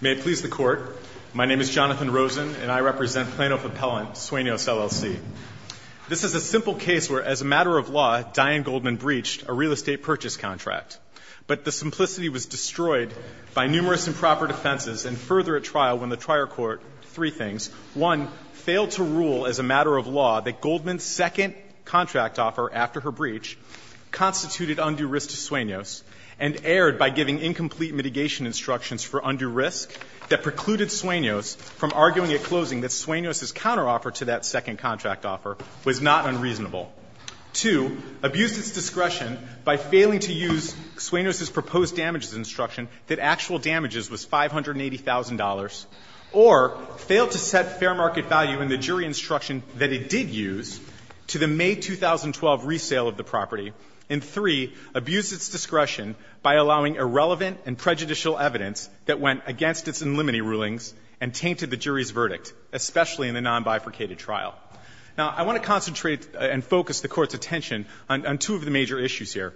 May it please the Court, my name is Jonathan Rosen, and I represent Plano Fapellant, Sueños LLC. This is a simple case where, as a matter of law, Diane Goldman breached a real estate purchase contract. But the simplicity was destroyed by numerous improper defenses and further at trial when the trier court three things. One, failed to rule as a matter of law that Goldman's second contract offer after her breach constituted undue risk to Sueños and it erred by giving incomplete mitigation instructions for undue risk that precluded Sueños from arguing at closing that Sueños' counteroffer to that second contract offer was not unreasonable. Two, abused its discretion by failing to use Sueños' proposed damages instruction that actual damages was $580,000 or failed to set fair market value in the jury instruction that it did use to the May 2012 resale of the $580,000 by allowing irrelevant and prejudicial evidence that went against its inlimity rulings and tainted the jury's verdict, especially in the nonbifurcated trial. Now, I want to concentrate and focus the Court's attention on two of the major issues here.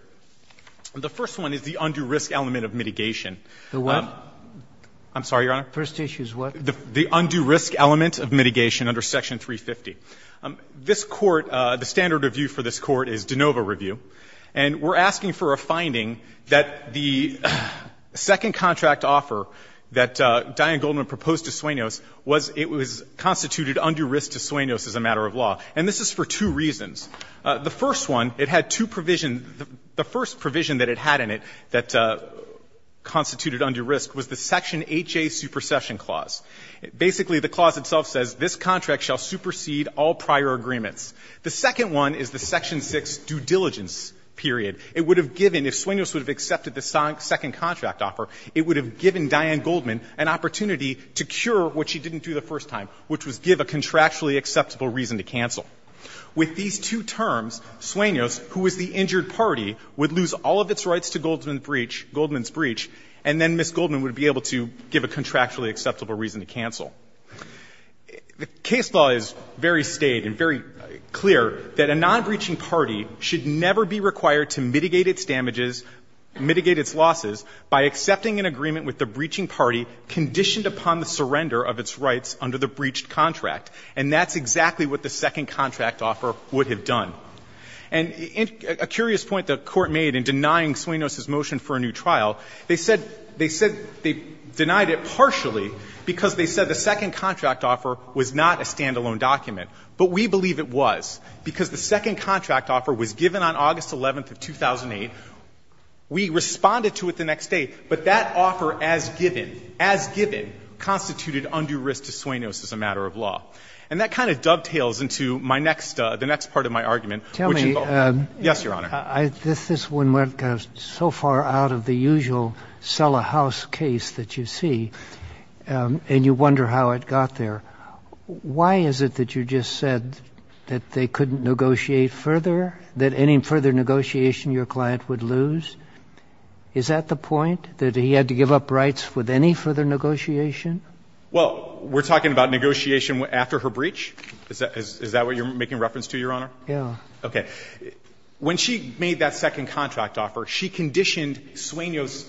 The first one is the undue risk element of mitigation. The what? I'm sorry, Your Honor. First issue is what? The undue risk element of mitigation under Section 350. This Court, the standard review for this Court is de novo review, and we're asking for a finding that the second contract offer that Diane Goldman proposed to Sueños was, it was constituted undue risk to Sueños as a matter of law. And this is for two reasons. The first one, it had two provisions. The first provision that it had in it that constituted undue risk was the Section 8J supersession clause. Basically, the clause itself says this contract shall supersede all prior agreements. The second one is the Section 6 due diligence period. It would have given, if Sueños would have accepted the second contract offer, it would have given Diane Goldman an opportunity to cure what she didn't do the first time, which was give a contractually acceptable reason to cancel. With these two terms, Sueños, who is the injured party, would lose all of its rights to Goldman's breach, and then Ms. Goldman would be able to give a contractually acceptable reason to cancel. The case law is very staid and very clear that a non-breaching party should never be required to mitigate its damages, mitigate its losses, by accepting an agreement with the breaching party conditioned upon the surrender of its rights under the breached contract. And that's exactly what the second contract offer would have done. And a curious point the Court made in denying Sueños' motion for a new trial, they said they denied it partially because they said the second contract offer was not a standalone document. But we believe it was because the second contract offer was given on August 11th of 2008. We responded to it the next day, but that offer as given, as given, constituted undue risk to Sueños as a matter of law. And that kind of dovetails into my next the next part of my argument, which involves. Yes, Your Honor. This is one where it goes so far out of the usual sell-a-house case that you see, and you wonder how it got there. Why is it that you just said that they couldn't negotiate further, that any further negotiation your client would lose? Is that the point, that he had to give up rights with any further negotiation? Well, we're talking about negotiation after her breach? Is that what you're making reference to, Your Honor? Yes. Okay. When she made that second contract offer, she conditioned Sueños,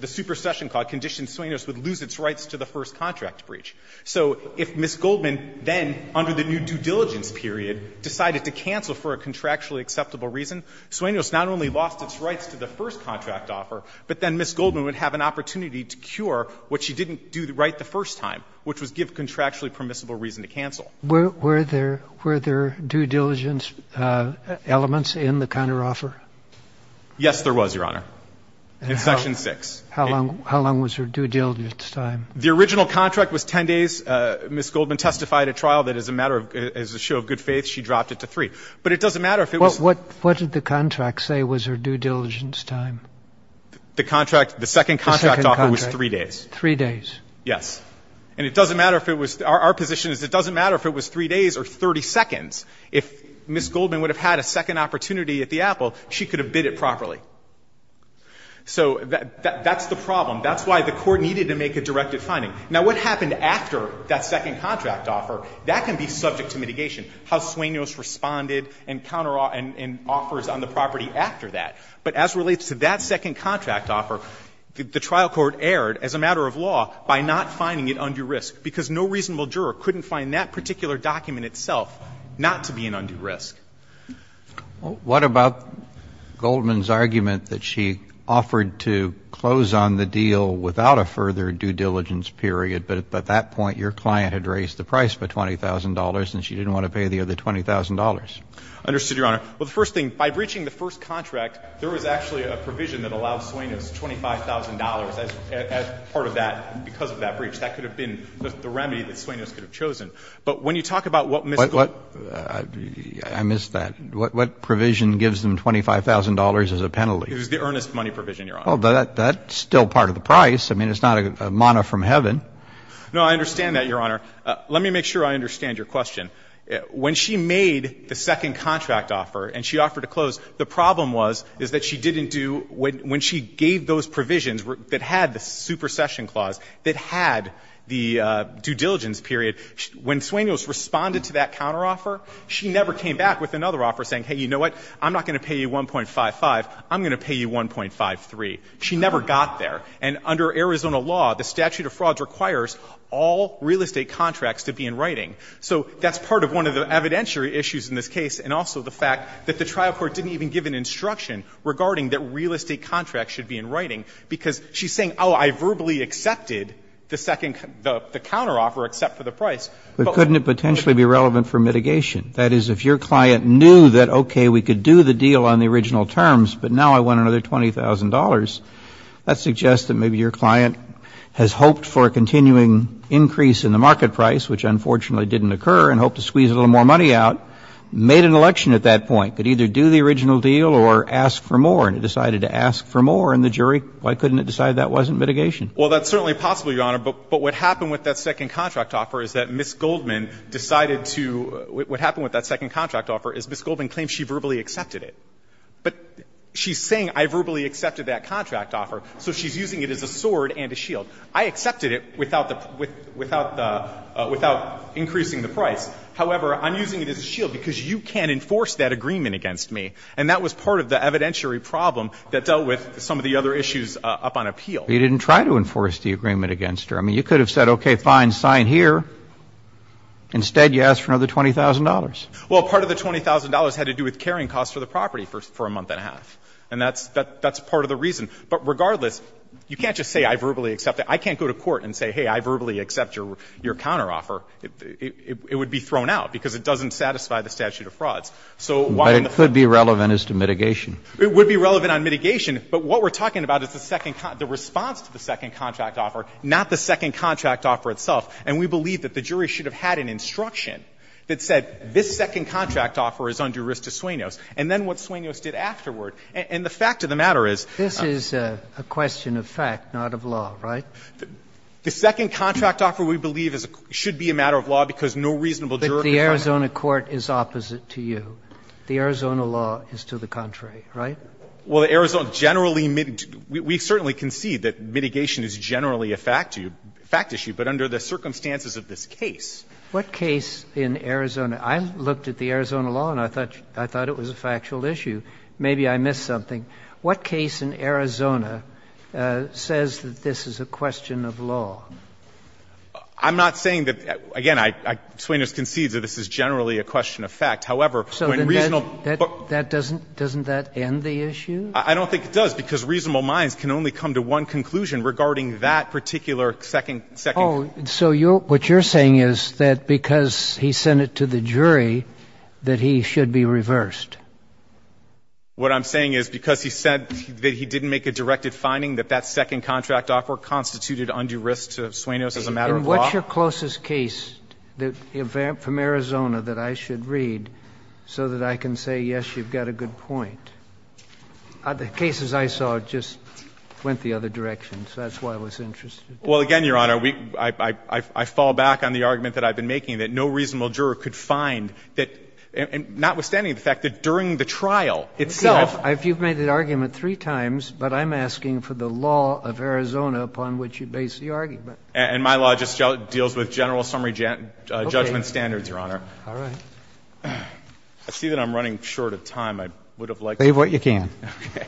the superstition clause, conditioned Sueños would lose its rights to the first contract breach. So if Ms. Goldman then, under the new due diligence period, decided to cancel for a contractually acceptable reason, Sueños not only lost its rights to the first contract offer, but then Ms. Goldman would have an opportunity to cure what she didn't do right the first time, which was give contractually permissible reason to cancel. Were there due diligence elements in the counteroffer? Yes, there was, Your Honor, in section 6. How long was her due diligence time? The original contract was 10 days. Ms. Goldman testified at trial that as a matter of – as a show of good faith, she dropped it to 3. But it doesn't matter if it was What did the contract say was her due diligence time? The contract – the second contract offer was 3 days. Three days. Yes. And it doesn't matter if it was – our position is it doesn't matter if it was 3 days or 30 seconds. If Ms. Goldman would have had a second opportunity at the Apple, she could have bid it properly. So that's the problem. That's why the court needed to make a directive finding. Now, what happened after that second contract offer, that can be subject to mitigation, how Sueños responded and counteroffers on the property after that. But as relates to that second contract offer, the trial court erred, as a matter of law, by not finding it undue risk. Because no reasonable juror couldn't find that particular document itself not to be an undue risk. Well, what about Goldman's argument that she offered to close on the deal without a further due diligence period, but at that point your client had raised the price for $20,000 and she didn't want to pay the other $20,000? Understood, Your Honor. Well, the first thing, by breaching the first contract, there was actually a provision that allowed Sueños $25,000 as part of that, because of that breach. That could have been the remedy that Sueños could have chosen. But when you talk about what Ms. Goldman ---- I missed that. What provision gives them $25,000 as a penalty? It was the earnest money provision, Your Honor. Well, that's still part of the price. I mean, it's not a mana from heaven. No, I understand that, Your Honor. Let me make sure I understand your question. When she made the second contract offer and she offered to close, the problem was, is that she didn't do ---- when she gave those provisions that had the supercession clause, that had the due diligence period, when Sueños responded to that counteroffer, she never came back with another offer saying, hey, you know what, I'm not going to pay you $1.55, I'm going to pay you $1.53. She never got there. And under Arizona law, the statute of frauds requires all real estate contracts to be in writing. So that's part of one of the evidentiary issues in this case, and also the fact that the trial court didn't even give an instruction regarding that real estate contracts should be in writing, because she's saying, oh, I verbally accepted the second ---- the counteroffer, except for the price. But couldn't it potentially be relevant for mitigation? That is, if your client knew that, okay, we could do the deal on the original terms, but now I want another $20,000, that suggests that maybe your client has hoped for a continuing increase in the market price, which unfortunately didn't occur, and hoped to squeeze a little more money out, made an election at that point, could either do the original deal or ask for more, and it decided to ask for more, and the jury, why couldn't it decide that wasn't mitigation? Well, that's certainly possible, Your Honor. But what happened with that second contract offer is that Ms. Goldman decided to ---- what happened with that second contract offer is Ms. Goldman claims she verbally accepted it. But she's saying, I verbally accepted that contract offer, so she's using it as a sword and a shield. I accepted it without the ---- without increasing the price. However, I'm using it as a shield because you can't enforce that agreement against me, and that was part of the evidentiary problem that dealt with some of the other issues up on appeal. You didn't try to enforce the agreement against her. I mean, you could have said, okay, fine, sign here. Instead, you asked for another $20,000. Well, part of the $20,000 had to do with carrying costs for the property for a month and a half, and that's part of the reason. But regardless, you can't just say I verbally accepted it. I can't go to court and say, hey, I verbally accept your counteroffer. It would be thrown out because it doesn't satisfy the statute of frauds. So why on the front line ---- But it could be relevant as to mitigation. It would be relevant on mitigation. But what we're talking about is the second ---- the response to the second contract offer, not the second contract offer itself. And we believe that the jury should have had an instruction that said, this second contract offer is under risk to Suenos. And then what Suenos did afterward, and the fact of the matter is ---- This is a question of fact, not of law, right? The second contract offer, we believe, should be a matter of law because no reasonable jury can comment. But the Arizona court is opposite to you. The Arizona law is to the contrary, right? Well, the Arizona generally ---- we certainly concede that mitigation is generally a fact issue, but under the circumstances of this case. What case in Arizona ---- I looked at the Arizona law, and I thought it was a factual issue. Maybe I missed something. What case in Arizona says that this is a question of law? I'm not saying that ---- again, Suenos concedes that this is generally a question of fact. However, when reasonable ---- So then that doesn't end the issue? I don't think it does, because reasonable minds can only come to one conclusion regarding that particular second ---- Oh, so what you're saying is that because he sent it to the jury, that he should be reversed? What I'm saying is because he said that he didn't make a directed finding, that that second contract offer constituted undue risk to Suenos as a matter of law? And what's your closest case from Arizona that I should read so that I can say, yes, you've got a good point? The cases I saw just went the other direction, so that's why I was interested. Well, again, Your Honor, I fall back on the argument that I've been making, that no reasonable juror could find that, notwithstanding the fact that during the trial itself ---- I think you've made that argument three times, but I'm asking for the law of Arizona upon which you base the argument. And my law just deals with general summary judgment standards, Your Honor. All right. I see that I'm running short of time. I would have liked to ---- Save what you can. Okay.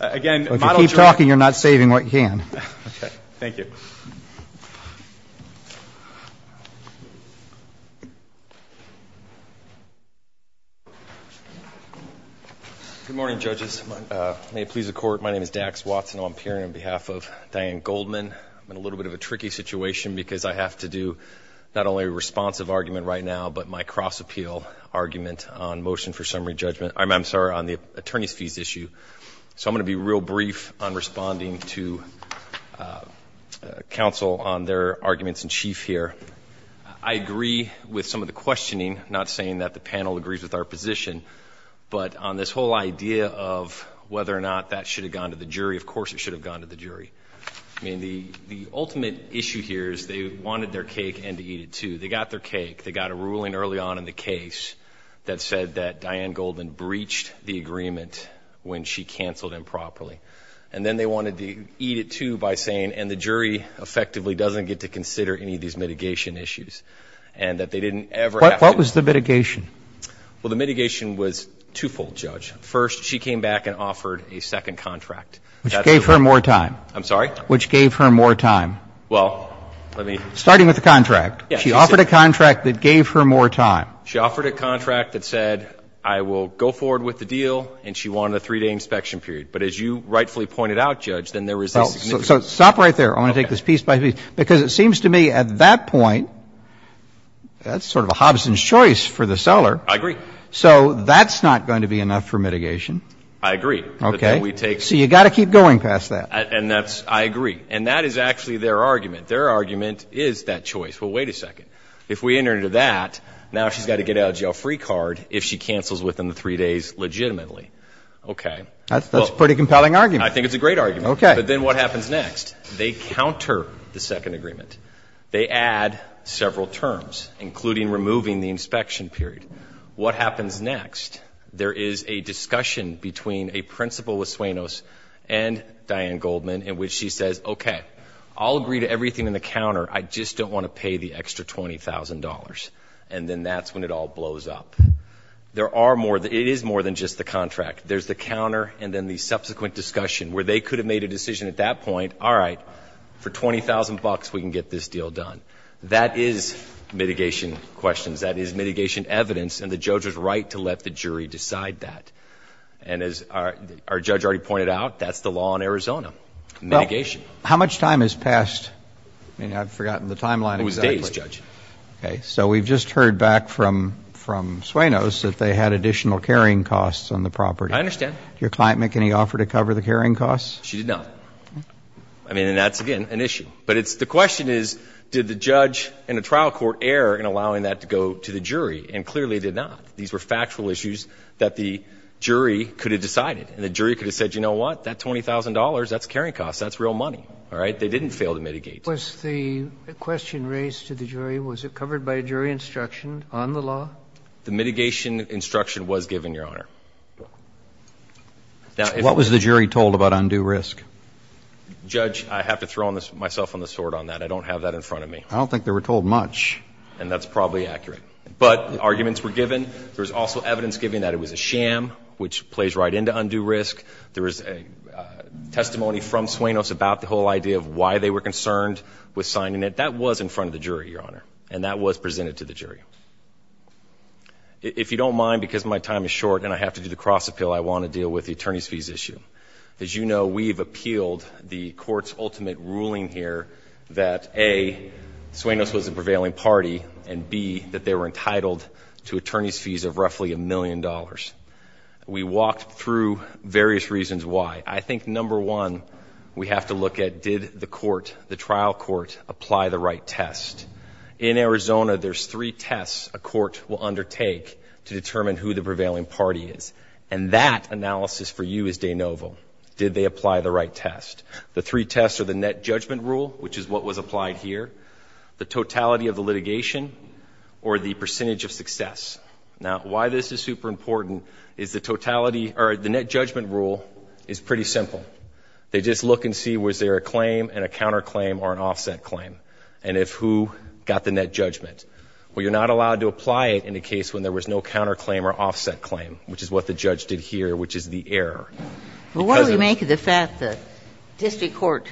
Again, model juror ---- If you keep talking, you're not saving what you can. Okay. Thank you. Good morning, judges. May it please the Court, my name is Dax Watson. I'm appearing on behalf of Diane Goldman. I'm in a little bit of a tricky situation because I have to do not only a responsive argument right now, but my cross-appeal argument on motion for summary judgment. I'm sorry, on the attorney's fees issue. So I'm going to be real brief on responding to counsel on their arguments in chief here. I agree with some of the questioning, not saying that the panel agrees with our position, but on this whole idea of whether or not that should have gone to the jury. Of course it should have gone to the jury. I mean, the ultimate issue here is they wanted their cake and to eat it too. They got their cake. They got a ruling early on in the case that said that Diane Goldman breached the rule and she canceled improperly. And then they wanted to eat it too by saying, and the jury effectively doesn't get to consider any of these mitigation issues, and that they didn't ever have to. What was the mitigation? Well, the mitigation was two-fold, Judge. First, she came back and offered a second contract. Which gave her more time. I'm sorry? Which gave her more time. Well, let me. Starting with the contract. She offered a contract that gave her more time. She offered a contract that said, I will go forward with the deal, and she wanted a three-day inspection period. But as you rightfully pointed out, Judge, then there was a significant. So stop right there. I want to take this piece by piece. Because it seems to me at that point, that's sort of a Hobson's choice for the seller. I agree. So that's not going to be enough for mitigation. I agree. Okay. So you got to keep going past that. And that's, I agree. And that is actually their argument. Their argument is that choice. Well, wait a second. If we enter into that, now she's got to get a jail-free card if she cancels within the three days legitimately. Okay. That's a pretty compelling argument. I think it's a great argument. Okay. But then what happens next? They counter the second agreement. They add several terms, including removing the inspection period. What happens next? There is a discussion between a principal of Suenos and Diane Goldman, in which she says, okay, I'll agree to everything in the counter. I just don't want to pay the extra $20,000. And then that's when it all blows up. There are more, it is more than just the contract. There's the counter and then the subsequent discussion where they could have made a decision at that point. All right, for $20,000 we can get this deal done. That is mitigation questions. That is mitigation evidence and the judge's right to let the jury decide that. And as our judge already pointed out, that's the law in Arizona. Mitigation. How much time has passed? I mean, I've forgotten the timeline. It was days, Judge. Okay, so we've just heard back from Suenos that they had additional carrying costs on the property. I understand. Did your client make any offer to cover the carrying costs? She did not. I mean, and that's, again, an issue. But the question is, did the judge in a trial court err in allowing that to go to the jury? And clearly did not. These were factual issues that the jury could have decided. And the jury could have said, you know what, that $20,000, that's carrying costs. That's real money. All right, they didn't fail to mitigate. Was the question raised to the jury, was it covered by jury instruction on the law? The mitigation instruction was given, Your Honor. What was the jury told about undue risk? Judge, I have to throw myself on the sword on that. I don't have that in front of me. I don't think they were told much. And that's probably accurate. But arguments were given. There was also evidence given that it was a sham, which plays right into undue risk. There was a testimony from Suenos about the whole idea of why they were concerned with signing it. That was in front of the jury, Your Honor. And that was presented to the jury. If you don't mind, because my time is short and I have to do the cross-appeal, I want to deal with the attorney's fees issue. As you know, we've appealed the court's ultimate ruling here that, A, Suenos was a prevailing party. And, B, that they were entitled to attorney's fees of roughly a million dollars. We walked through various reasons why. I think number one, we have to look at, did the court, the trial court, apply the right test? In Arizona, there's three tests a court will undertake to determine who the prevailing party is. And that analysis for you is de novo. Did they apply the right test? The three tests are the net judgment rule, which is what was applied here, the totality of the litigation, or the percentage of success. Now, why this is super important is the net judgment rule is pretty simple. They just look and see, was there a claim and a counterclaim or an offset claim? And if who got the net judgment? Well, you're not allowed to apply it in a case when there was no counterclaim or offset claim, which is what the judge did here, which is the error. Well, why do we make the fact that district court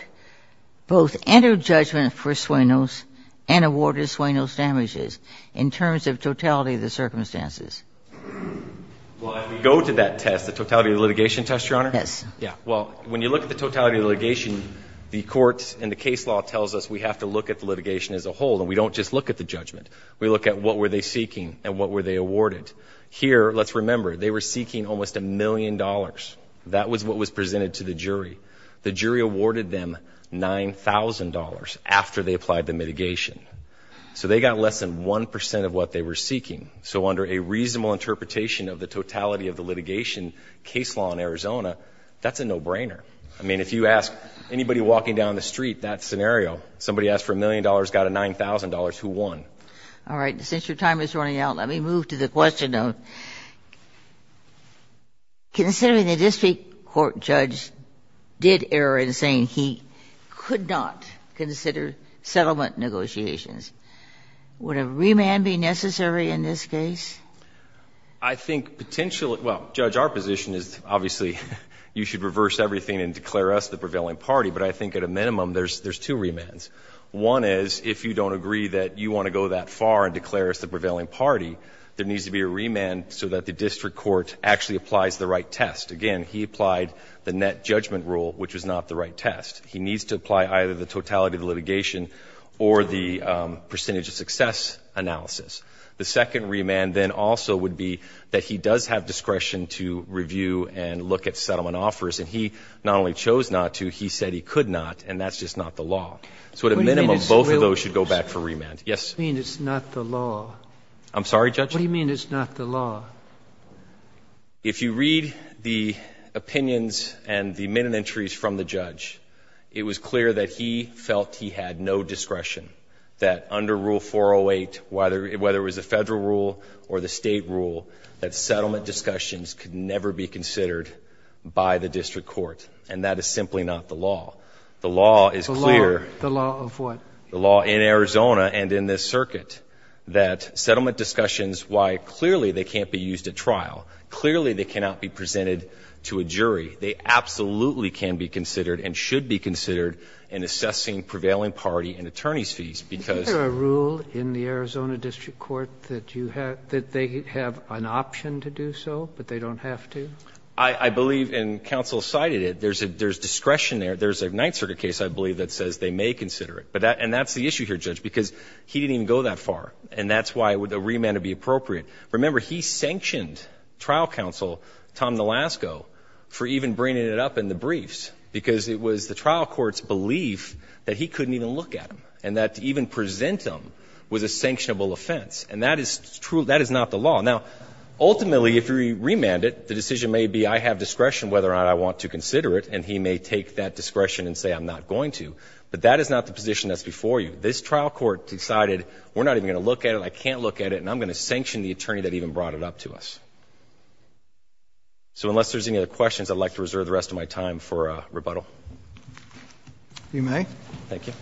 both entered judgment for Suenos and awarded Suenos damages in terms of totality of the circumstances? Well, if we go to that test, the totality of the litigation test, Your Honor? Yes. Yeah. Well, when you look at the totality of the litigation, the courts and the case law tells us we have to look at the litigation as a whole, and we don't just look at the judgment. We look at what were they seeking and what were they awarded. Here, let's remember, they were seeking almost a million dollars. That was what was presented to the jury. The jury awarded them $9,000 after they applied the mitigation. So they got less than 1% of what they were seeking. So under a reasonable interpretation of the totality of the litigation, case law in Arizona, that's a no-brainer. I mean, if you ask anybody walking down the street that scenario, somebody asked for a million dollars, got a $9,000, who won? All right. Since your time is running out, let me move to the question of, considering the district court judge did err in saying he could not consider settlement negotiations, would a remand be necessary in this case? I think potentially, well, Judge, our position is, obviously, you should reverse everything and declare us the prevailing party. But I think at a minimum, there's two remands. One is, if you don't agree that you want to go that far and declare us the prevailing party, there needs to be a remand so that the district court actually applies the right test. Again, he applied the net judgment rule, which was not the right test. He needs to apply either the totality of the litigation or the percentage of success analysis. The second remand then also would be that he does have discretion to review and look at settlement offers. And he not only chose not to, he said he could not, and that's just not the law. So at a minimum, both of those should go back for remand. What do you mean it's not the law? I'm sorry, Judge? What do you mean it's not the law? If you read the opinions and the minute entries from the judge, it was clear that he felt he had no discretion, that under Rule 408, whether it was a federal rule or the state rule, that settlement discussions could never be considered by the district court. And that is simply not the law. The law is clear. The law of what? The law in Arizona and in this circuit, that settlement discussions, why, clearly, they can't be used at trial. Clearly, they cannot be presented to a jury. They absolutely can be considered and should be considered in assessing prevailing party and attorney's fees, because- Is there a rule in the Arizona district court that they have an option to do so, but they don't have to? I believe, and counsel cited it, there's discretion there. There's a Ninth Circuit case, I believe, that says they may consider it. And that's the issue here, Judge, because he didn't even go that far, and that's why the remand would be appropriate. Remember, he sanctioned trial counsel, Tom Nolasco, for even bringing it up in the briefs, because it was the trial court's belief that he couldn't even look at them, and that to even present them was a sanctionable offense. And that is true, that is not the law. Now, ultimately, if you remand it, the decision may be I have discretion whether or not I want to consider it, and he may take that discretion and say I'm not going to, but that is not the position that's before you. This trial court decided we're not even going to look at it, I can't look at it, and I'm going to sanction the attorney that even brought it up to us. So unless there's any other questions, I'd like to reserve the rest of my time for rebuttal. You may. Thank you.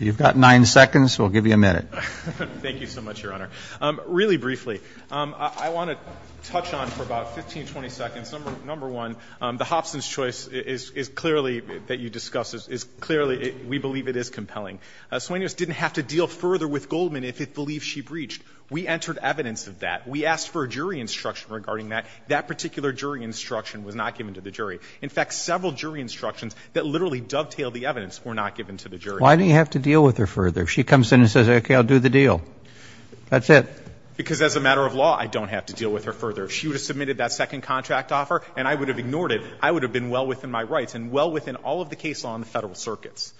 You've got nine seconds, we'll give you a minute. Thank you so much, Your Honor. Really briefly, I want to touch on for about 15, 20 seconds, number one, the Hobson's choice is clearly that you discussed, is clearly we believe it is compelling. Sueños didn't have to deal further with Goldman if it believed she breached. We entered evidence of that. We asked for a jury instruction regarding that. That particular jury instruction was not given to the jury. In fact, several jury instructions that literally dovetailed the evidence were not given to the jury. Why do you have to deal with her further? If she comes in and says, okay, I'll do the deal, that's it. Because as a matter of law, I don't have to deal with her further. If she would have submitted that second contract offer and I would have ignored it, I would have been well within my rights and well within all of the case law in the federal circuits.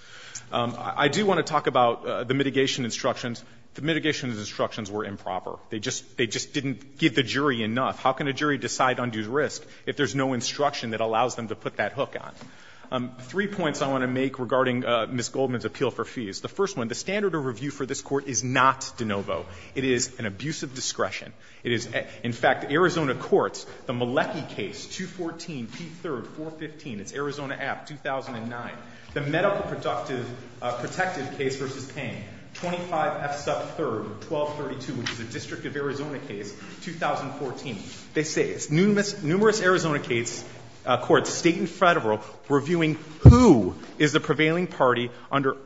I do want to talk about the mitigation instructions. The mitigation instructions were improper. They just didn't give the jury enough. How can a jury decide undue risk if there's no instruction that allows them to put that hook on? Three points I want to make regarding Ms. Goldman's appeal for fees. The first one, the standard of review for this court is not de novo. It is an abuse of discretion. It is, in fact, Arizona courts, the Melecky case, 214 P3, 415, it's Arizona app, 2009. The medical protective case versus pain, 25 F sub 3, 1232, which is a district of Arizona case, 2014. They say numerous Arizona courts, state and federal, reviewing who is the prevailing party under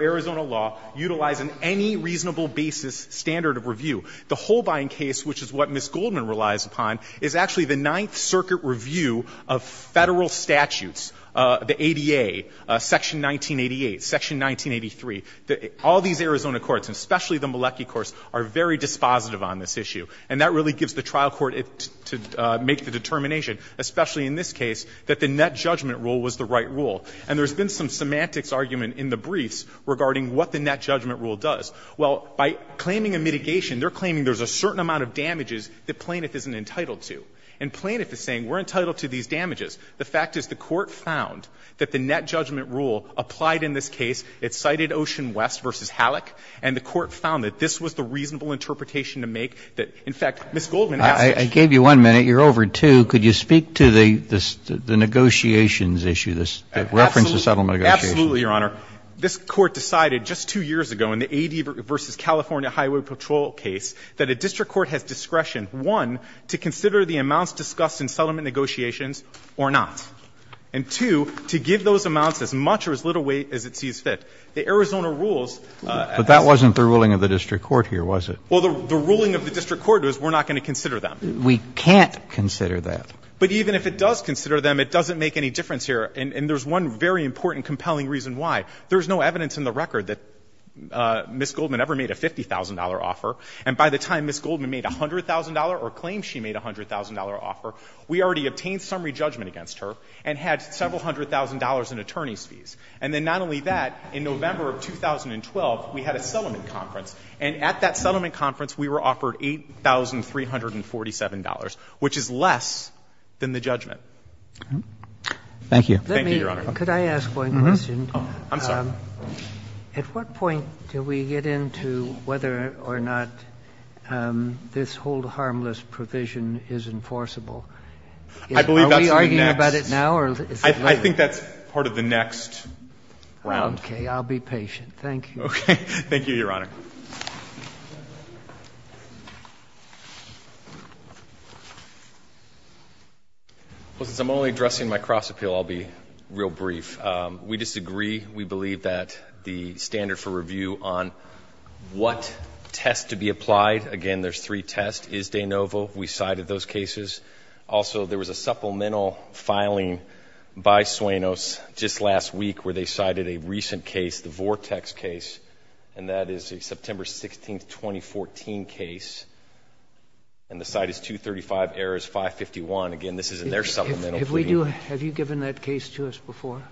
Arizona law, utilizing any reasonable basis standard of review, the Holbein case, which is what Ms. Goldman relies upon, is actually the Ninth Circuit review of federal statutes. The ADA, section 1988, section 1983, all these Arizona courts, especially the Melecky courts, are very dispositive on this issue. And that really gives the trial court to make the determination, especially in this case, that the net judgment rule was the right rule. And there's been some semantics argument in the briefs regarding what the net judgment rule does. Well, by claiming a mitigation, they're claiming there's a certain amount of damages that Plaintiff isn't entitled to. And Plaintiff is saying, we're entitled to these damages. The fact is the court found that the net judgment rule applied in this case, it cited Ocean West versus Halleck. And the court found that this was the reasonable interpretation to make that, in fact, Ms. Goldman has- I gave you one minute. You're over two. Could you speak to the negotiations issue, the reference to settlement negotiations? Absolutely, Your Honor. This court decided just two years ago in the AD versus California Highway Patrol case that a district court has discretion, one, to consider the amounts discussed in settlement negotiations or not. And two, to give those amounts as much or as little weight as it sees fit. The Arizona rules- But that wasn't the ruling of the district court here, was it? Well, the ruling of the district court was we're not going to consider them. We can't consider that. But even if it does consider them, it doesn't make any difference here. And there's one very important, compelling reason why. There's no evidence in the record that Ms. Goldman ever made a $50,000 offer. And by the time Ms. Goldman made $100,000 or claimed she made a $100,000 offer, we already obtained summary judgment against her and had several hundred thousand dollars in attorney's fees. And then not only that, in November of 2012, we had a settlement conference. And at that settlement conference, we were offered $8,347, which is less than the judgment. Thank you. Thank you, Your Honor. Let me ask one question. I'm sorry. At what point do we get into whether or not this whole harmless provision is enforceable? I believe that's the next. Are we arguing about it now or is it later? I think that's part of the next round. Okay, I'll be patient. Thank you. Okay, thank you, Your Honor. Well, since I'm only addressing my cross appeal, I'll be real brief. We disagree. We believe that the standard for review on what test to be applied, again, there's three tests. Is de novo. We cited those cases. Also, there was a supplemental filing by Suenos just last week where they cited a recent case, the Vortex case. And that is a September 16, 2014 case. And the site is 235 errors, 551. Again, this isn't their supplemental. Have you given that case to us before?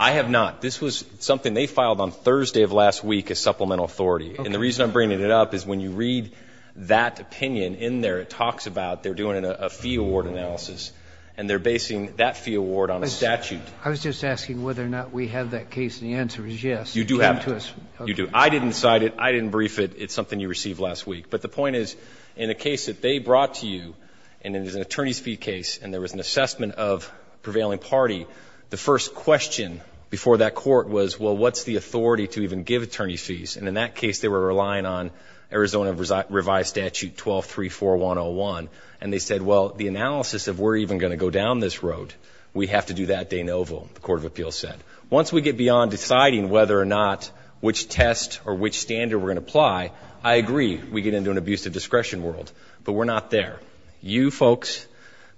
I have not. This was something they filed on Thursday of last week as supplemental authority. And the reason I'm bringing it up is when you read that opinion in there, it talks about they're doing a fee award analysis. And they're basing that fee award on a statute. I was just asking whether or not we have that case, and the answer is yes. You do have it. You do. I didn't cite it. I didn't brief it. It's something you received last week. But the point is, in a case that they brought to you, and it was an attorney's fee case, and there was an assessment of prevailing party. The first question before that court was, well, what's the authority to even give attorney fees? And in that case, they were relying on Arizona Revised Statute 1234101. And they said, well, the analysis of we're even going to go down this road, we have to do that de novo, the Court of Appeals said. Once we get beyond deciding whether or not which test or which standard we're going to apply, I agree, we get into an abusive discretion world. But we're not there. You folks,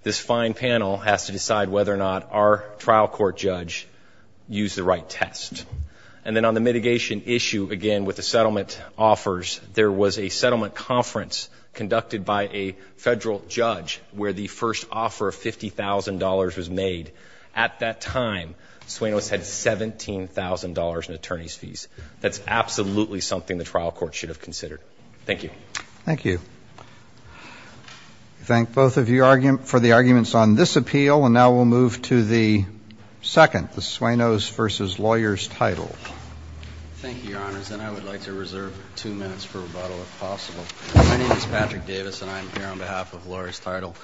this fine panel, has to decide whether or not our trial court judge used the right test. And then on the mitigation issue, again, with the settlement offers, there was a settlement conference conducted by a federal judge where the first offer of $50,000 was made. At that time, Suenos had $17,000 in attorney's fees. That's absolutely something the trial court should have considered. Thank you. Thank you. Thank both of you for the arguments on this appeal. And now we'll move to the second, the Suenos versus Lawyer's Title. Thank you, Your Honors, and I would like to reserve two minutes for rebuttal, if possible. My name is Patrick Davis, and I'm here on behalf of Lawyer's Title.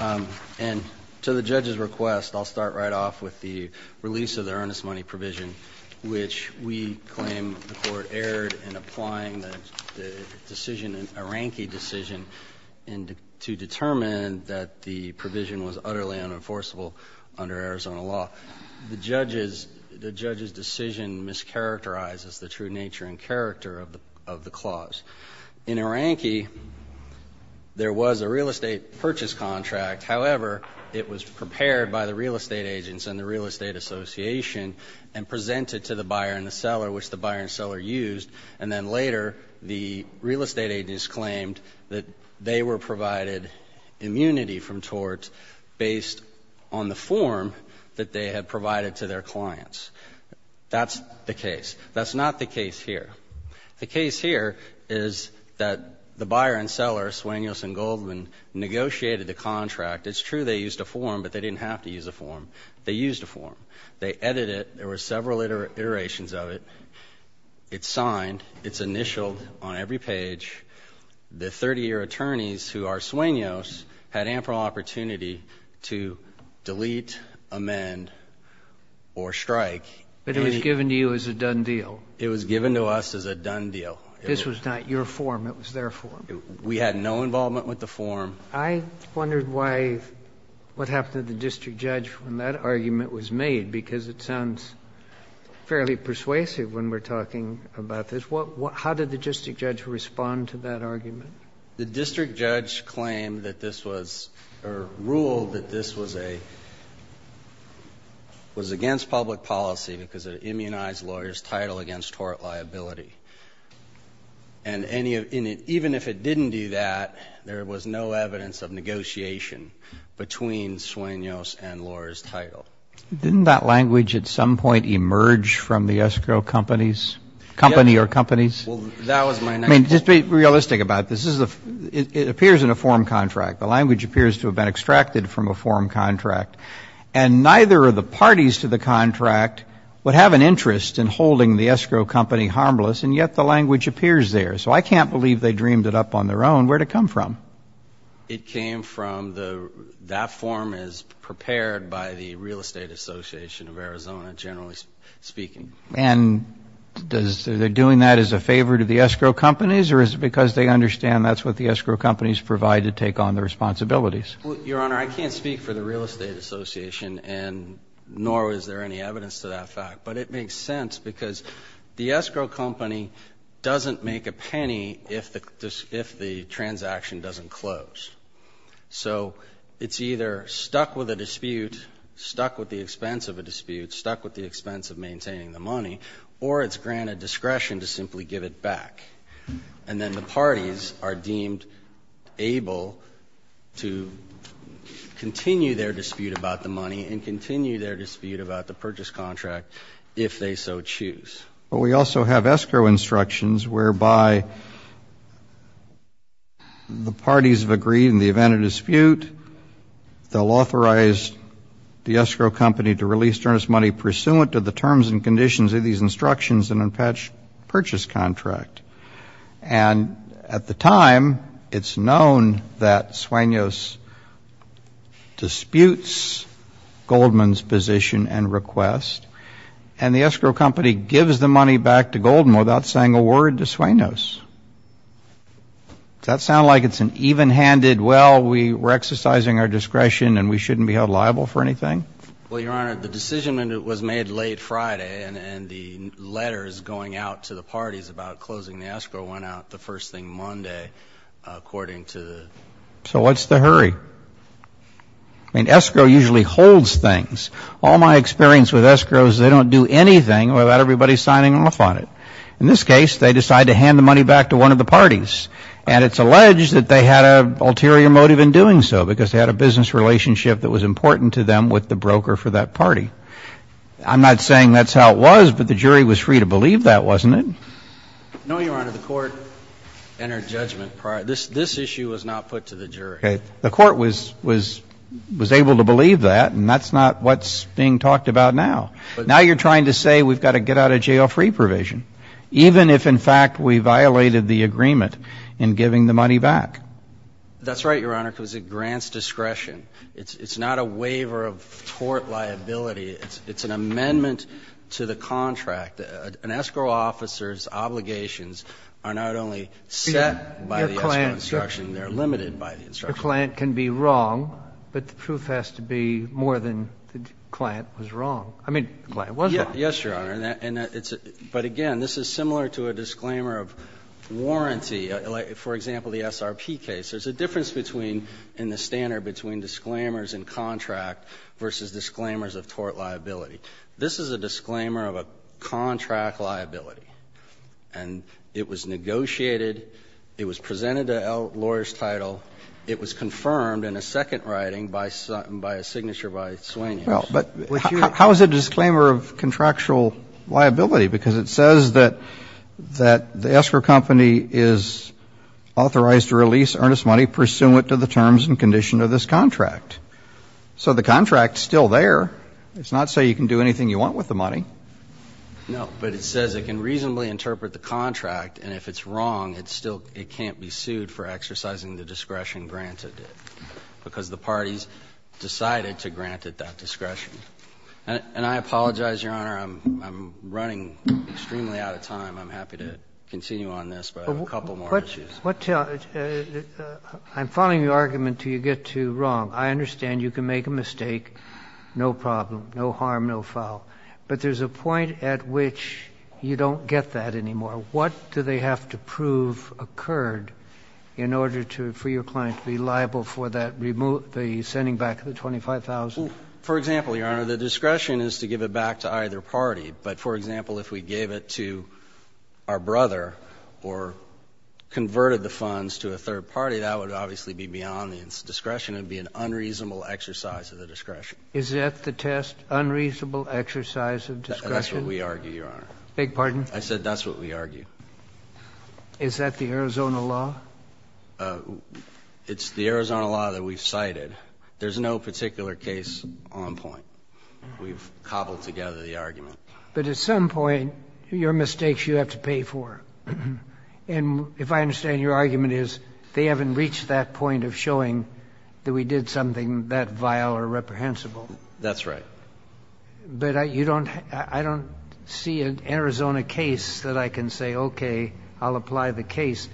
And to the judge's request, I'll start right off with the release of the earnest money provision, which we claim the court erred in applying the decision, an Arankey decision, to determine that the provision was utterly unenforceable under Arizona law. The judge's decision mischaracterizes the true nature and character of the clause. In Arankey, there was a real estate purchase contract. However, it was prepared by the real estate agents and the real estate association and presented to the buyer and the seller, which the buyer and seller used. And then later, the real estate agents claimed that they were provided immunity from torts based on the form that they had provided to their clients. That's the case. That's not the case here. The case here is that the buyer and seller, Suenos and Goldman, negotiated the contract. It's true they used a form, but they didn't have to use a form. They used a form. They edited it. There were several iterations of it. It's signed. It's initialed on every page. The 30-year attorneys who are Suenos had ample opportunity to delete, amend, or strike. But it was given to you as a done deal. It was given to us as a done deal. This was not your form. It was their form. We had no involvement with the form. I wondered why what happened to the district judge when that argument was made, because it sounds fairly persuasive when we're talking about this. How did the district judge respond to that argument? The district judge claimed that this was, or ruled that this was against public policy because it immunized lawyers' title against tort liability. And even if it didn't do that, there was no evidence of negotiation between Suenos and lawyers' title. Didn't that language at some point emerge from the escrow companies? Company or companies? Well, that was my next point. I mean, just be realistic about this. It appears in a form contract. The language appears to have been extracted from a form contract. And neither of the parties to the contract would have an interest in holding the escrow company harmless, and yet the language appears there. So I can't believe they dreamed it up on their own. Where did it come from? It came from the, that form is prepared by the Real Estate Association of Arizona, generally speaking. And does, they're doing that as a favor to the escrow companies, or is it because they understand that's what the escrow companies provide to take on the responsibilities? Well, Your Honor, I can't speak for the Real Estate Association, and nor is there any evidence to that fact. But it makes sense, because the escrow company doesn't make a penny if the transaction doesn't close. So it's either stuck with a dispute, stuck with the expense of a dispute, stuck with the expense of maintaining the money, or it's granted discretion to simply give it back. And then the parties are deemed able to continue their dispute about the money and continue their dispute about the purchase contract if they so choose. But we also have escrow instructions whereby the parties have agreed in the event of dispute, they'll authorize the escrow company to release earnest money pursuant to the terms and conditions of these instructions in a patched purchase contract. And at the time, it's known that Sueno's disputes Goldman's position and request. And the escrow company gives the money back to Goldman without saying a word to Sueno's. Does that sound like it's an even-handed, well, we're exercising our discretion and we shouldn't be held liable for anything? Well, Your Honor, the decision was made late Friday, and the letters going out to the parties about closing the escrow went out the first thing Monday, according to the- So what's the hurry? I mean, escrow usually holds things. All my experience with escrow is they don't do anything without everybody signing off on it. In this case, they decide to hand the money back to one of the parties. And it's alleged that they had an ulterior motive in doing so, because they had a business relationship that was important to them with the broker for that party. I'm not saying that's how it was, but the jury was free to believe that, wasn't it? No, Your Honor. The court entered judgment prior. This issue was not put to the jury. Okay. The court was able to believe that, and that's not what's being talked about now. Now you're trying to say we've got to get out of jail free provision, even if, in fact, we violated the agreement in giving the money back. That's right, Your Honor, because it grants discretion. It's not a waiver of court liability. It's an amendment to the contract. An escrow officer's obligations are not only set by the escrow instruction, they're limited by the instruction. Your client can be wrong, but the truth has to be more than the client was wrong. I mean, the client was wrong. Yes, Your Honor. And it's a – but, again, this is similar to a disclaimer of warranty. For example, the SRP case, there's a difference between, in the standard, between disclaimers and contract versus disclaimers of court liability. This is a disclaimer of a contract liability, and it was negotiated, it was presented to lawyers' title, it was confirmed in a second writing by a signature by Sweeney. Well, but how is it a disclaimer of contractual liability? Because it says that the escrow company is authorized to release earnest money pursuant to the terms and condition of this contract. So the contract's still there. It's not so you can do anything you want with the money. No, but it says it can reasonably interpret the contract, and if it's wrong, it still – it can't be sued for exercising the discretion granted it, because the parties decided to grant it that discretion. And I apologize, Your Honor, I'm running extremely out of time. I'm happy to continue on this, but I have a couple more issues. But what – I'm following your argument until you get too wrong. I understand you can make a mistake, no problem, no harm, no foul. But there's a point at which you don't get that anymore. What do they have to prove occurred in order to – for your client to be liable for that – the sending back of the $25,000? Well, for example, Your Honor, the discretion is to give it back to either party. But, for example, if we gave it to our brother or converted the funds to a third party, that would obviously be beyond the discretion. It would be an unreasonable exercise of the discretion. Is that the test, unreasonable exercise of discretion? That's what we argue, Your Honor. Beg your pardon? I said that's what we argue. Is that the Arizona law? It's the Arizona law that we've cited. There's no particular case on point. We've cobbled together the argument. But at some point, your mistakes you have to pay for. And if I understand, your argument is they haven't reached that point of showing that we did something that vile or reprehensible. That's right. But you don't – I don't see an Arizona case that I can say, okay, I'll apply the case.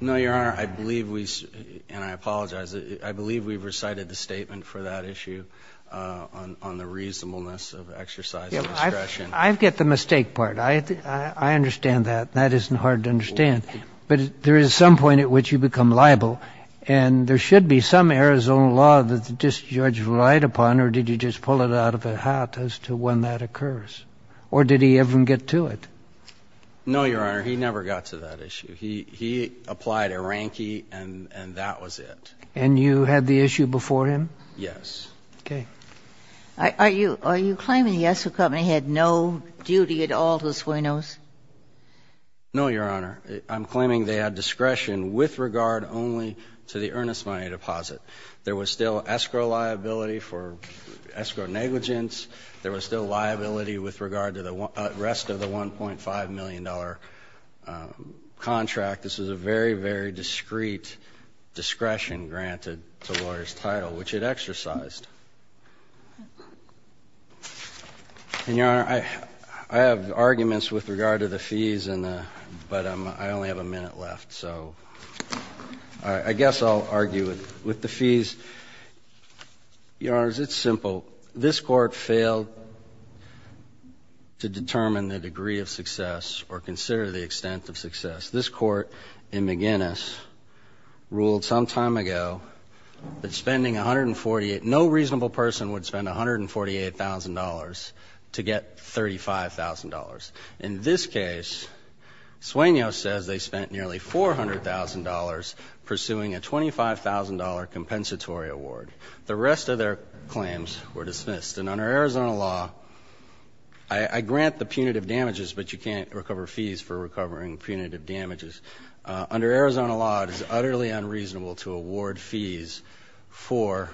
No, Your Honor. I believe we – and I apologize. I believe we've recited the statement for that issue on the reasonableness of exercise of discretion. I get the mistake part. I understand that. That isn't hard to understand. But there is some point at which you become liable, and there should be some Arizona law that the district judge relied upon, or did he just pull it out of the hat as to when that occurs, or did he ever get to it? No, Your Honor. He never got to that issue. He applied a ranky, and that was it. And you had the issue before him? Yes. Okay. Are you claiming the Esso Company had no duty at all to Sueno's? No, Your Honor. I'm claiming they had discretion with regard only to the earnest money deposit. There was still escrow liability for escrow negligence. There was still liability with regard to the rest of the $1.5 million contract. This was a very, very discreet discretion granted to lawyer's title, which it exercised. And, Your Honor, I have arguments with regard to the fees, but I only have a minute left. So I guess I'll argue with the fees. Your Honors, it's simple. This Court failed to determine the degree of success or consider the extent of success. This Court in McGinnis ruled some time ago that spending $148,000, no reasonable person would spend $148,000 to get $35,000. In this case, Sueno says they spent nearly $400,000 pursuing a $25,000 compensatory award. The rest of their claims were dismissed. And under Arizona law, I grant the punitive damages, but you can't recover fees for recovering punitive damages. Under Arizona law, it is utterly unreasonable to award fees for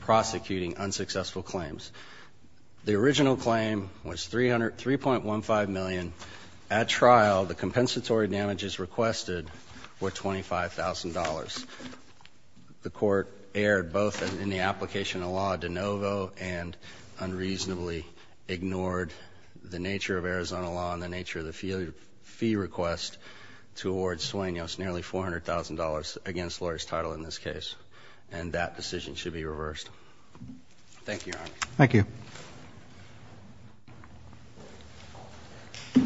prosecuting unsuccessful claims. The original claim was $3.15 million. At trial, the compensatory damages requested were $25,000. The court erred both in the application of law de novo and unreasonably ignored the nature of Arizona law and the nature of the fee request to award Sueno nearly $400,000 against lawyer's title in this case. And that decision should be reversed. Thank you, Your Honor. Thank you. I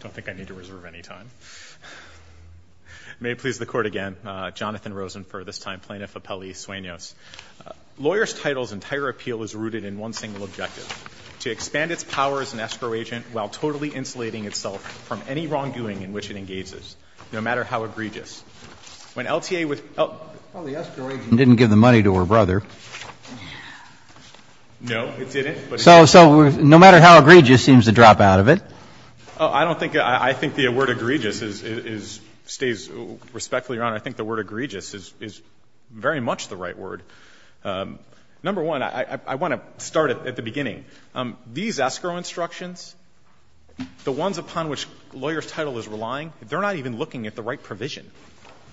don't think I need to reserve any time. May it please the Court again, Jonathan Rosen for this time, Plaintiff Appellee Sueno. Lawyer's title's entire appeal is rooted in one single objective, to expand its power as an escrow agent while totally insulating itself from any wrongdoing in which it engages, no matter how egregious. When LTA was el el Well, the escrow agent didn't give the money to her brother. No, it didn't. So no matter how egregious seems to drop out of it. I don't think the word egregious stays respectfully, Your Honor. I think the word egregious is very much the right word. Number one, I want to start at the beginning. These escrow instructions, the ones upon which lawyer's title is relying, they're not even looking at the right provision.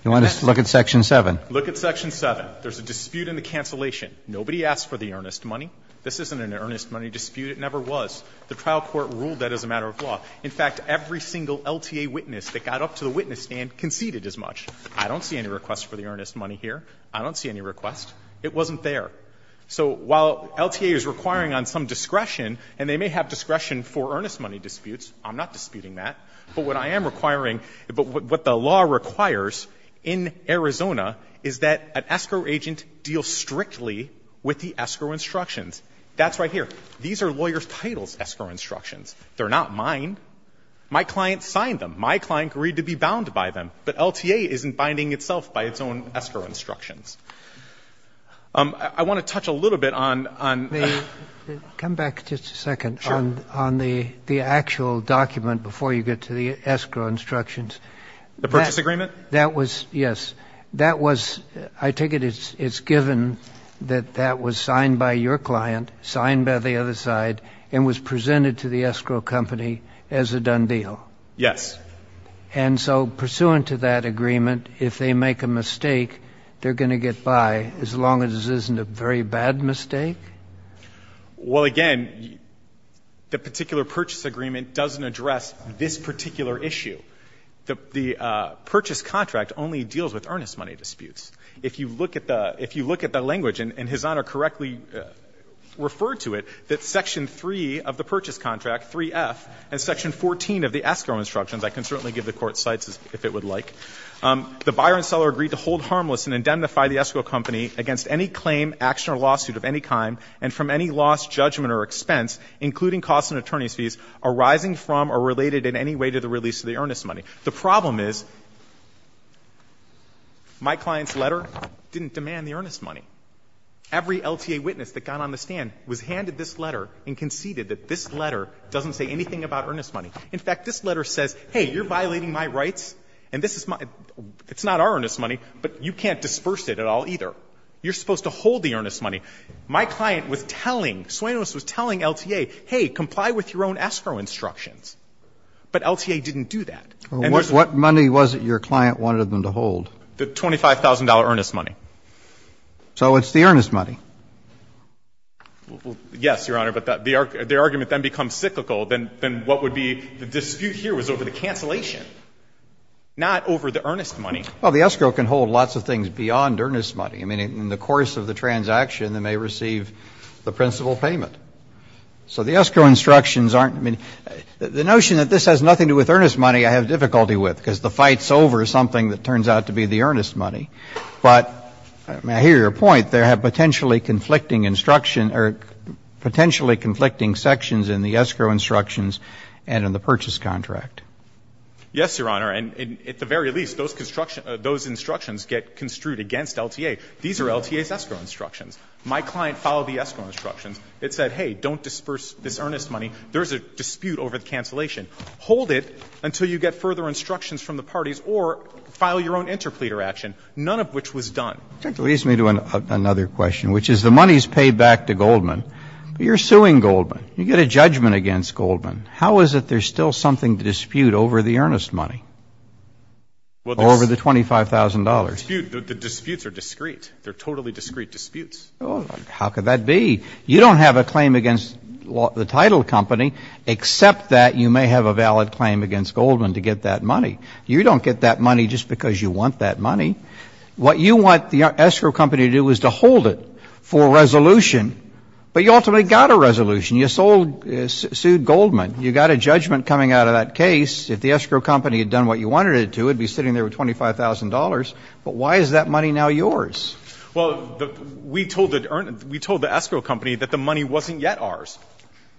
You want us to look at section 7? Look at section 7. There's a dispute in the cancellation. Nobody asked for the earnest money. This isn't an earnest money dispute. It never was. The trial court ruled that as a matter of law. In fact, every single LTA witness that got up to the witness stand conceded as much. I don't see any request for the earnest money here. I don't see any request. It wasn't there. So while LTA is requiring on some discretion, and they may have discretion for earnest money disputes, I'm not disputing that, but what I am requiring is that an escrow agent deal strictly with the escrow instructions. That's right here. These are lawyer's title's escrow instructions. They're not mine. My client signed them. My client agreed to be bound by them. But LTA isn't binding itself by its own escrow instructions. I want to touch a little bit on the actual document before you get to the escrow instructions. The purchase agreement? That was, yes. That was, I take it it's given that that was signed by your client, signed by the other side, and was presented to the escrow company as a done deal. Yes. And so pursuant to that agreement, if they make a mistake, they're going to get by, as long as it isn't a very bad mistake? Well, again, the particular purchase agreement doesn't address this particular issue. The purchase contract only deals with earnest money disputes. If you look at the language, and His Honor correctly referred to it, that section 3 of the purchase contract, 3F, and section 14 of the escrow instructions, I can certainly give the Court cites if it would like, the buyer and seller agreed to hold harmless and indemnify the escrow company against any claim, action, or lawsuit of any kind, and from any loss, judgment, or expense, including costs and attorney's fees, arising from or related in any way to the release of the earnest money. The problem is my client's letter didn't demand the earnest money. Every LTA witness that got on the stand was handed this letter and conceded that this letter doesn't say anything about earnest money. In fact, this letter says, hey, you're violating my rights, and this is my — it's not our earnest money, but you can't disperse it at all either. You're supposed to hold the earnest money. My client was telling, Suenos was telling LTA, hey, comply with your own escrow instructions. But LTA didn't do that. And there's a— Roberts, what money was it your client wanted them to hold? The $25,000 earnest money. So it's the earnest money. Yes, Your Honor, but the argument then becomes cyclical. Then what would be the dispute here was over the cancellation, not over the earnest money. Well, the escrow can hold lots of things beyond earnest money. I mean, in the course of the transaction, they may receive the principal payment. So the escrow instructions aren't — I mean, the notion that this has nothing to do with earnest money I have difficulty with, because the fight's over is something that turns out to be the earnest money. But, I mean, I hear your point. There have potentially conflicting instruction — or potentially conflicting sections in the escrow instructions and in the purchase contract. Yes, Your Honor. And at the very least, those instructions get construed against LTA. These are LTA's escrow instructions. My client followed the escrow instructions. It said, hey, don't disperse this earnest money. There's a dispute over the cancellation. Hold it until you get further instructions from the parties or file your own interpleader action, none of which was done. That leads me to another question, which is the money is paid back to Goldman, but you're suing Goldman. You get a judgment against Goldman. How is it there's still something to dispute over the earnest money? Over the $25,000. The disputes are discreet. They're totally discreet disputes. How could that be? You don't have a claim against the title company, except that you may have a valid claim against Goldman to get that money. You don't get that money just because you want that money. What you want the escrow company to do is to hold it for a resolution, but you ultimately got a resolution. You sued Goldman. You got a judgment coming out of that case. If the escrow company had done what you wanted it to, it would be sitting there with $25,000. But why is that money now yours? Well, we told the escrow company that the money wasn't yet ours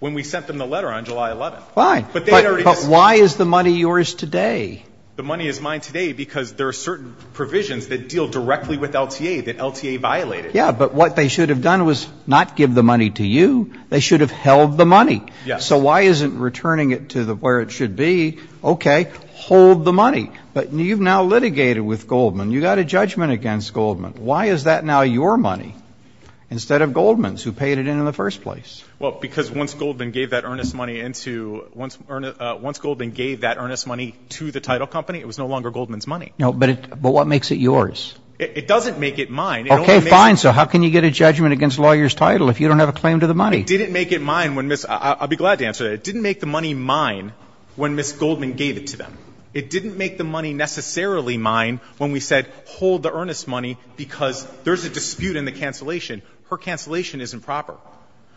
when we sent them the letter on July 11th. Fine. But why is the money yours today? The money is mine today because there are certain provisions that deal directly with LTA that LTA violated. Yeah, but what they should have done was not give the money to you. They should have held the money. So why isn't returning it to where it should be? Okay, hold the money. But you've now litigated with Goldman. You got a judgment against Goldman. Why is that now your money instead of Goldman's, who paid it in in the first place? Well, because once Goldman gave that earnest money to the title company, it was no longer Goldman's money. No, but what makes it yours? It doesn't make it mine. Okay, fine. So how can you get a judgment against a lawyer's title if you don't have a claim to the money? It didn't make it mine when Ms. I'll be glad to answer that. It didn't make the money mine when Ms. Goldman gave it to them. It didn't make the money necessarily mine when we said hold the earnest money because there's a dispute in the cancellation. Her cancellation isn't proper.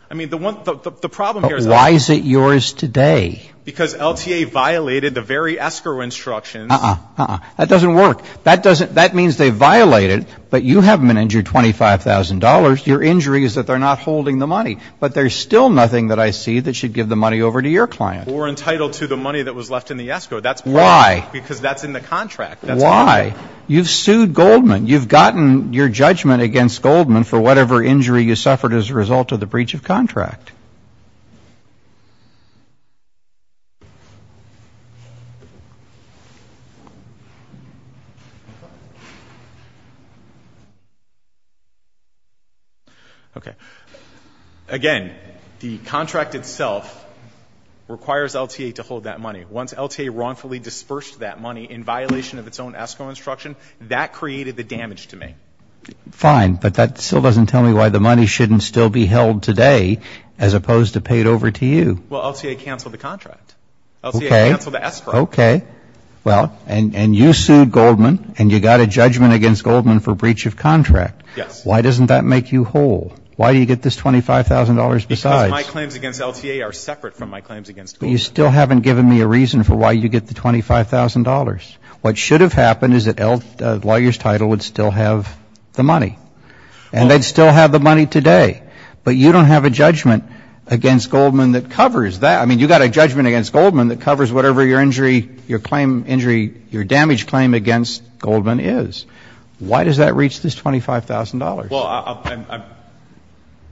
I mean, the problem here is that. But why is it yours today? Because LTA violated the very escrow instructions. Uh-uh, uh-uh. That doesn't work. That means they violated, but you haven't been injured $25,000. Your injury is that they're not holding the money. But there's still nothing that I see that should give the money over to your client. But we're entitled to the money that was left in the escrow. That's part of it. Why? Because that's in the contract. That's part of it. Why? You've sued Goldman. You've gotten your judgment against Goldman for whatever injury you suffered as a result of the breach of contract. Okay. Again, the contract itself requires LTA to hold that money. Once LTA wrongfully dispersed that money in violation of its own escrow instruction, that created the damage to me. Fine, but that still doesn't tell me why the money shouldn't still be held today as opposed to paid over to you. Well, LTA canceled the contract. Okay. LTA canceled the escrow. Okay. Well, and you sued Goldman, and you got a judgment against Goldman for breach of contract. Yes. Why doesn't that make you whole? Why do you get this $25,000 besides? Because my claims against LTA are separate from my claims against Goldman. But you still haven't given me a reason for why you get the $25,000. What should have happened is that the lawyer's title would still have the money, and they'd still have the money today. But you don't have a judgment against Goldman that covers that. I mean, you've got a judgment against Goldman that covers whatever your injury, your claim injury, your damage claim against Goldman is. Why does that reach this $25,000? Well,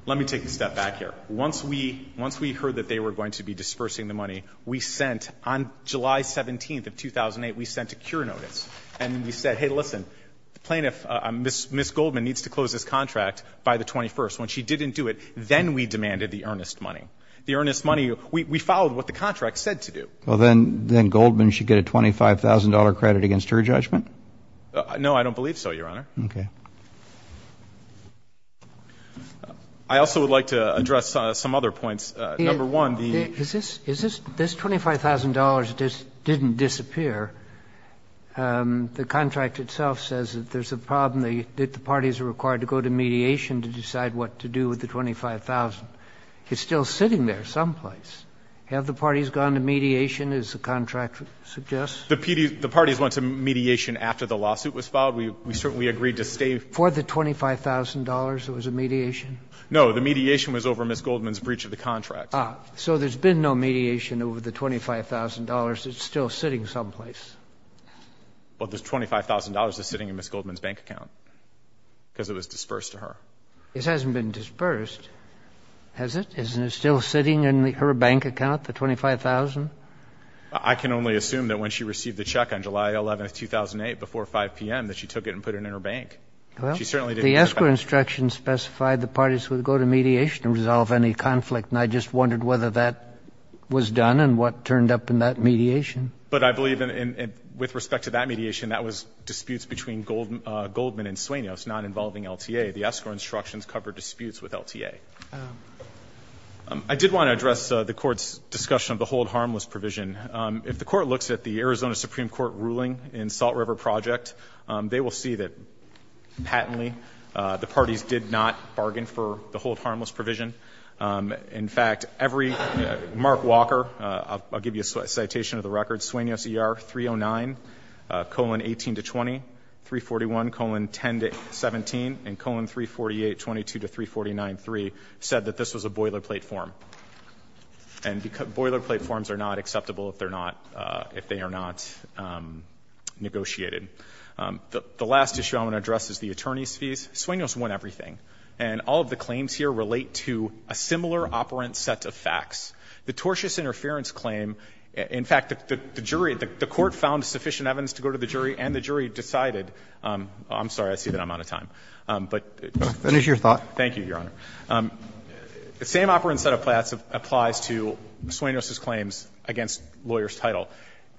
let me take a step back here. Once we heard that they were going to be dispersing the money, we sent, on July 17th of 2008, we sent a cure notice. And we said, hey, listen, the plaintiff, Ms. Goldman, needs to close this contract by the 21st. When she didn't do it, then we demanded the earnest money. The earnest money, we followed what the contract said to do. Well, then Goldman should get a $25,000 credit against her judgment? No, I don't believe so, Your Honor. Okay. I also would like to address some other points. Number one, the ---- This $25,000 didn't disappear. The contract itself says that there's a problem, that the parties are required to go to mediation to decide what to do with the $25,000. It's still sitting there someplace. Have the parties gone to mediation, as the contract suggests? The parties went to mediation after the lawsuit was filed. We certainly agreed to stay. For the $25,000, there was a mediation? No, the mediation was over Ms. Goldman's breach of the contract. So there's been no mediation over the $25,000. It's still sitting someplace. Well, the $25,000 is sitting in Ms. Goldman's bank account because it was dispersed to her. It hasn't been dispersed, has it? Isn't it still sitting in her bank account, the $25,000? I can only assume that when she received the check on July 11, 2008, before 5 p.m., that she took it and put it in her bank. She certainly didn't ---- Well, the escrow instructions specified the parties would go to mediation and resolve any conflict, and I just wondered whether that was done and what turned up in that mediation. But I believe with respect to that mediation, that was disputes between Goldman and Sueños, not involving LTA. The escrow instructions covered disputes with LTA. I did want to address the Court's discussion of the hold harmless provision. If the Court looks at the Arizona Supreme Court ruling in Salt River Project, they will see that, patently, the parties did not bargain for the hold harmless provision. In fact, every ---- Mark Walker, I'll give you a citation of the record. Sueños ER 309, colon, 18 to 20, 341, colon, 10 to 17, and colon, 348, 22 to 349, 3, said that this was a boilerplate form. And boilerplate forms are not acceptable if they're not ---- if they are not negotiated. The last issue I want to address is the attorney's fees. Sueños won everything. And all of the claims here relate to a similar operant set of facts. The tortious interference claim, in fact, the jury ---- the Court found sufficient evidence to go to the jury, and the jury decided ---- I'm sorry, I see that I'm out of time, but ---- Roberts, that is your thought. Thank you, Your Honor. The same operant set of facts applies to Sueños' claims against lawyer's title.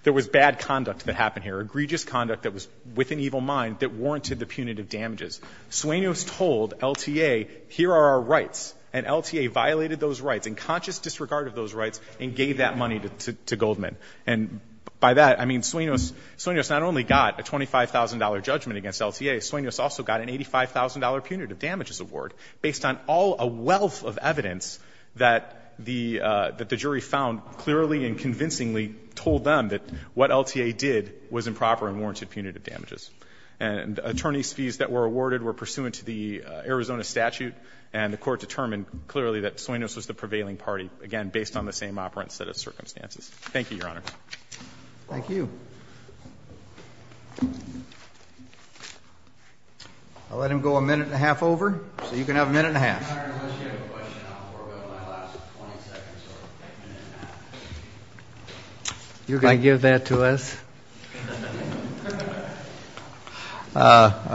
There was bad conduct that happened here, egregious conduct that was with an evil mind that warranted the punitive damages. And LTA violated those rights. In conscious disregard of those rights, and gave that money to Goldman. And by that, I mean, Sueños not only got a $25,000 judgment against LTA, Sueños also got an $85,000 punitive damages award based on all a wealth of evidence that the jury found clearly and convincingly told them that what LTA did was improper and warranted punitive damages. And attorney's fees that were awarded were pursuant to the Arizona statute, and the Court determined clearly that Sueños was the prevailing party, again, based on the same operant set of circumstances. Thank you, Your Honor. Thank you. I'll let him go a minute and a half over, so you can have a minute and a half. Your Honor, unless you have a question, I'll forward my last 20 seconds to a minute and a half. Can I give that to us?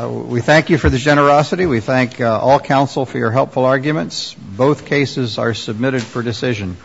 We thank you for the generosity. We thank all counsel for your helpful arguments. Both cases are submitted for decision.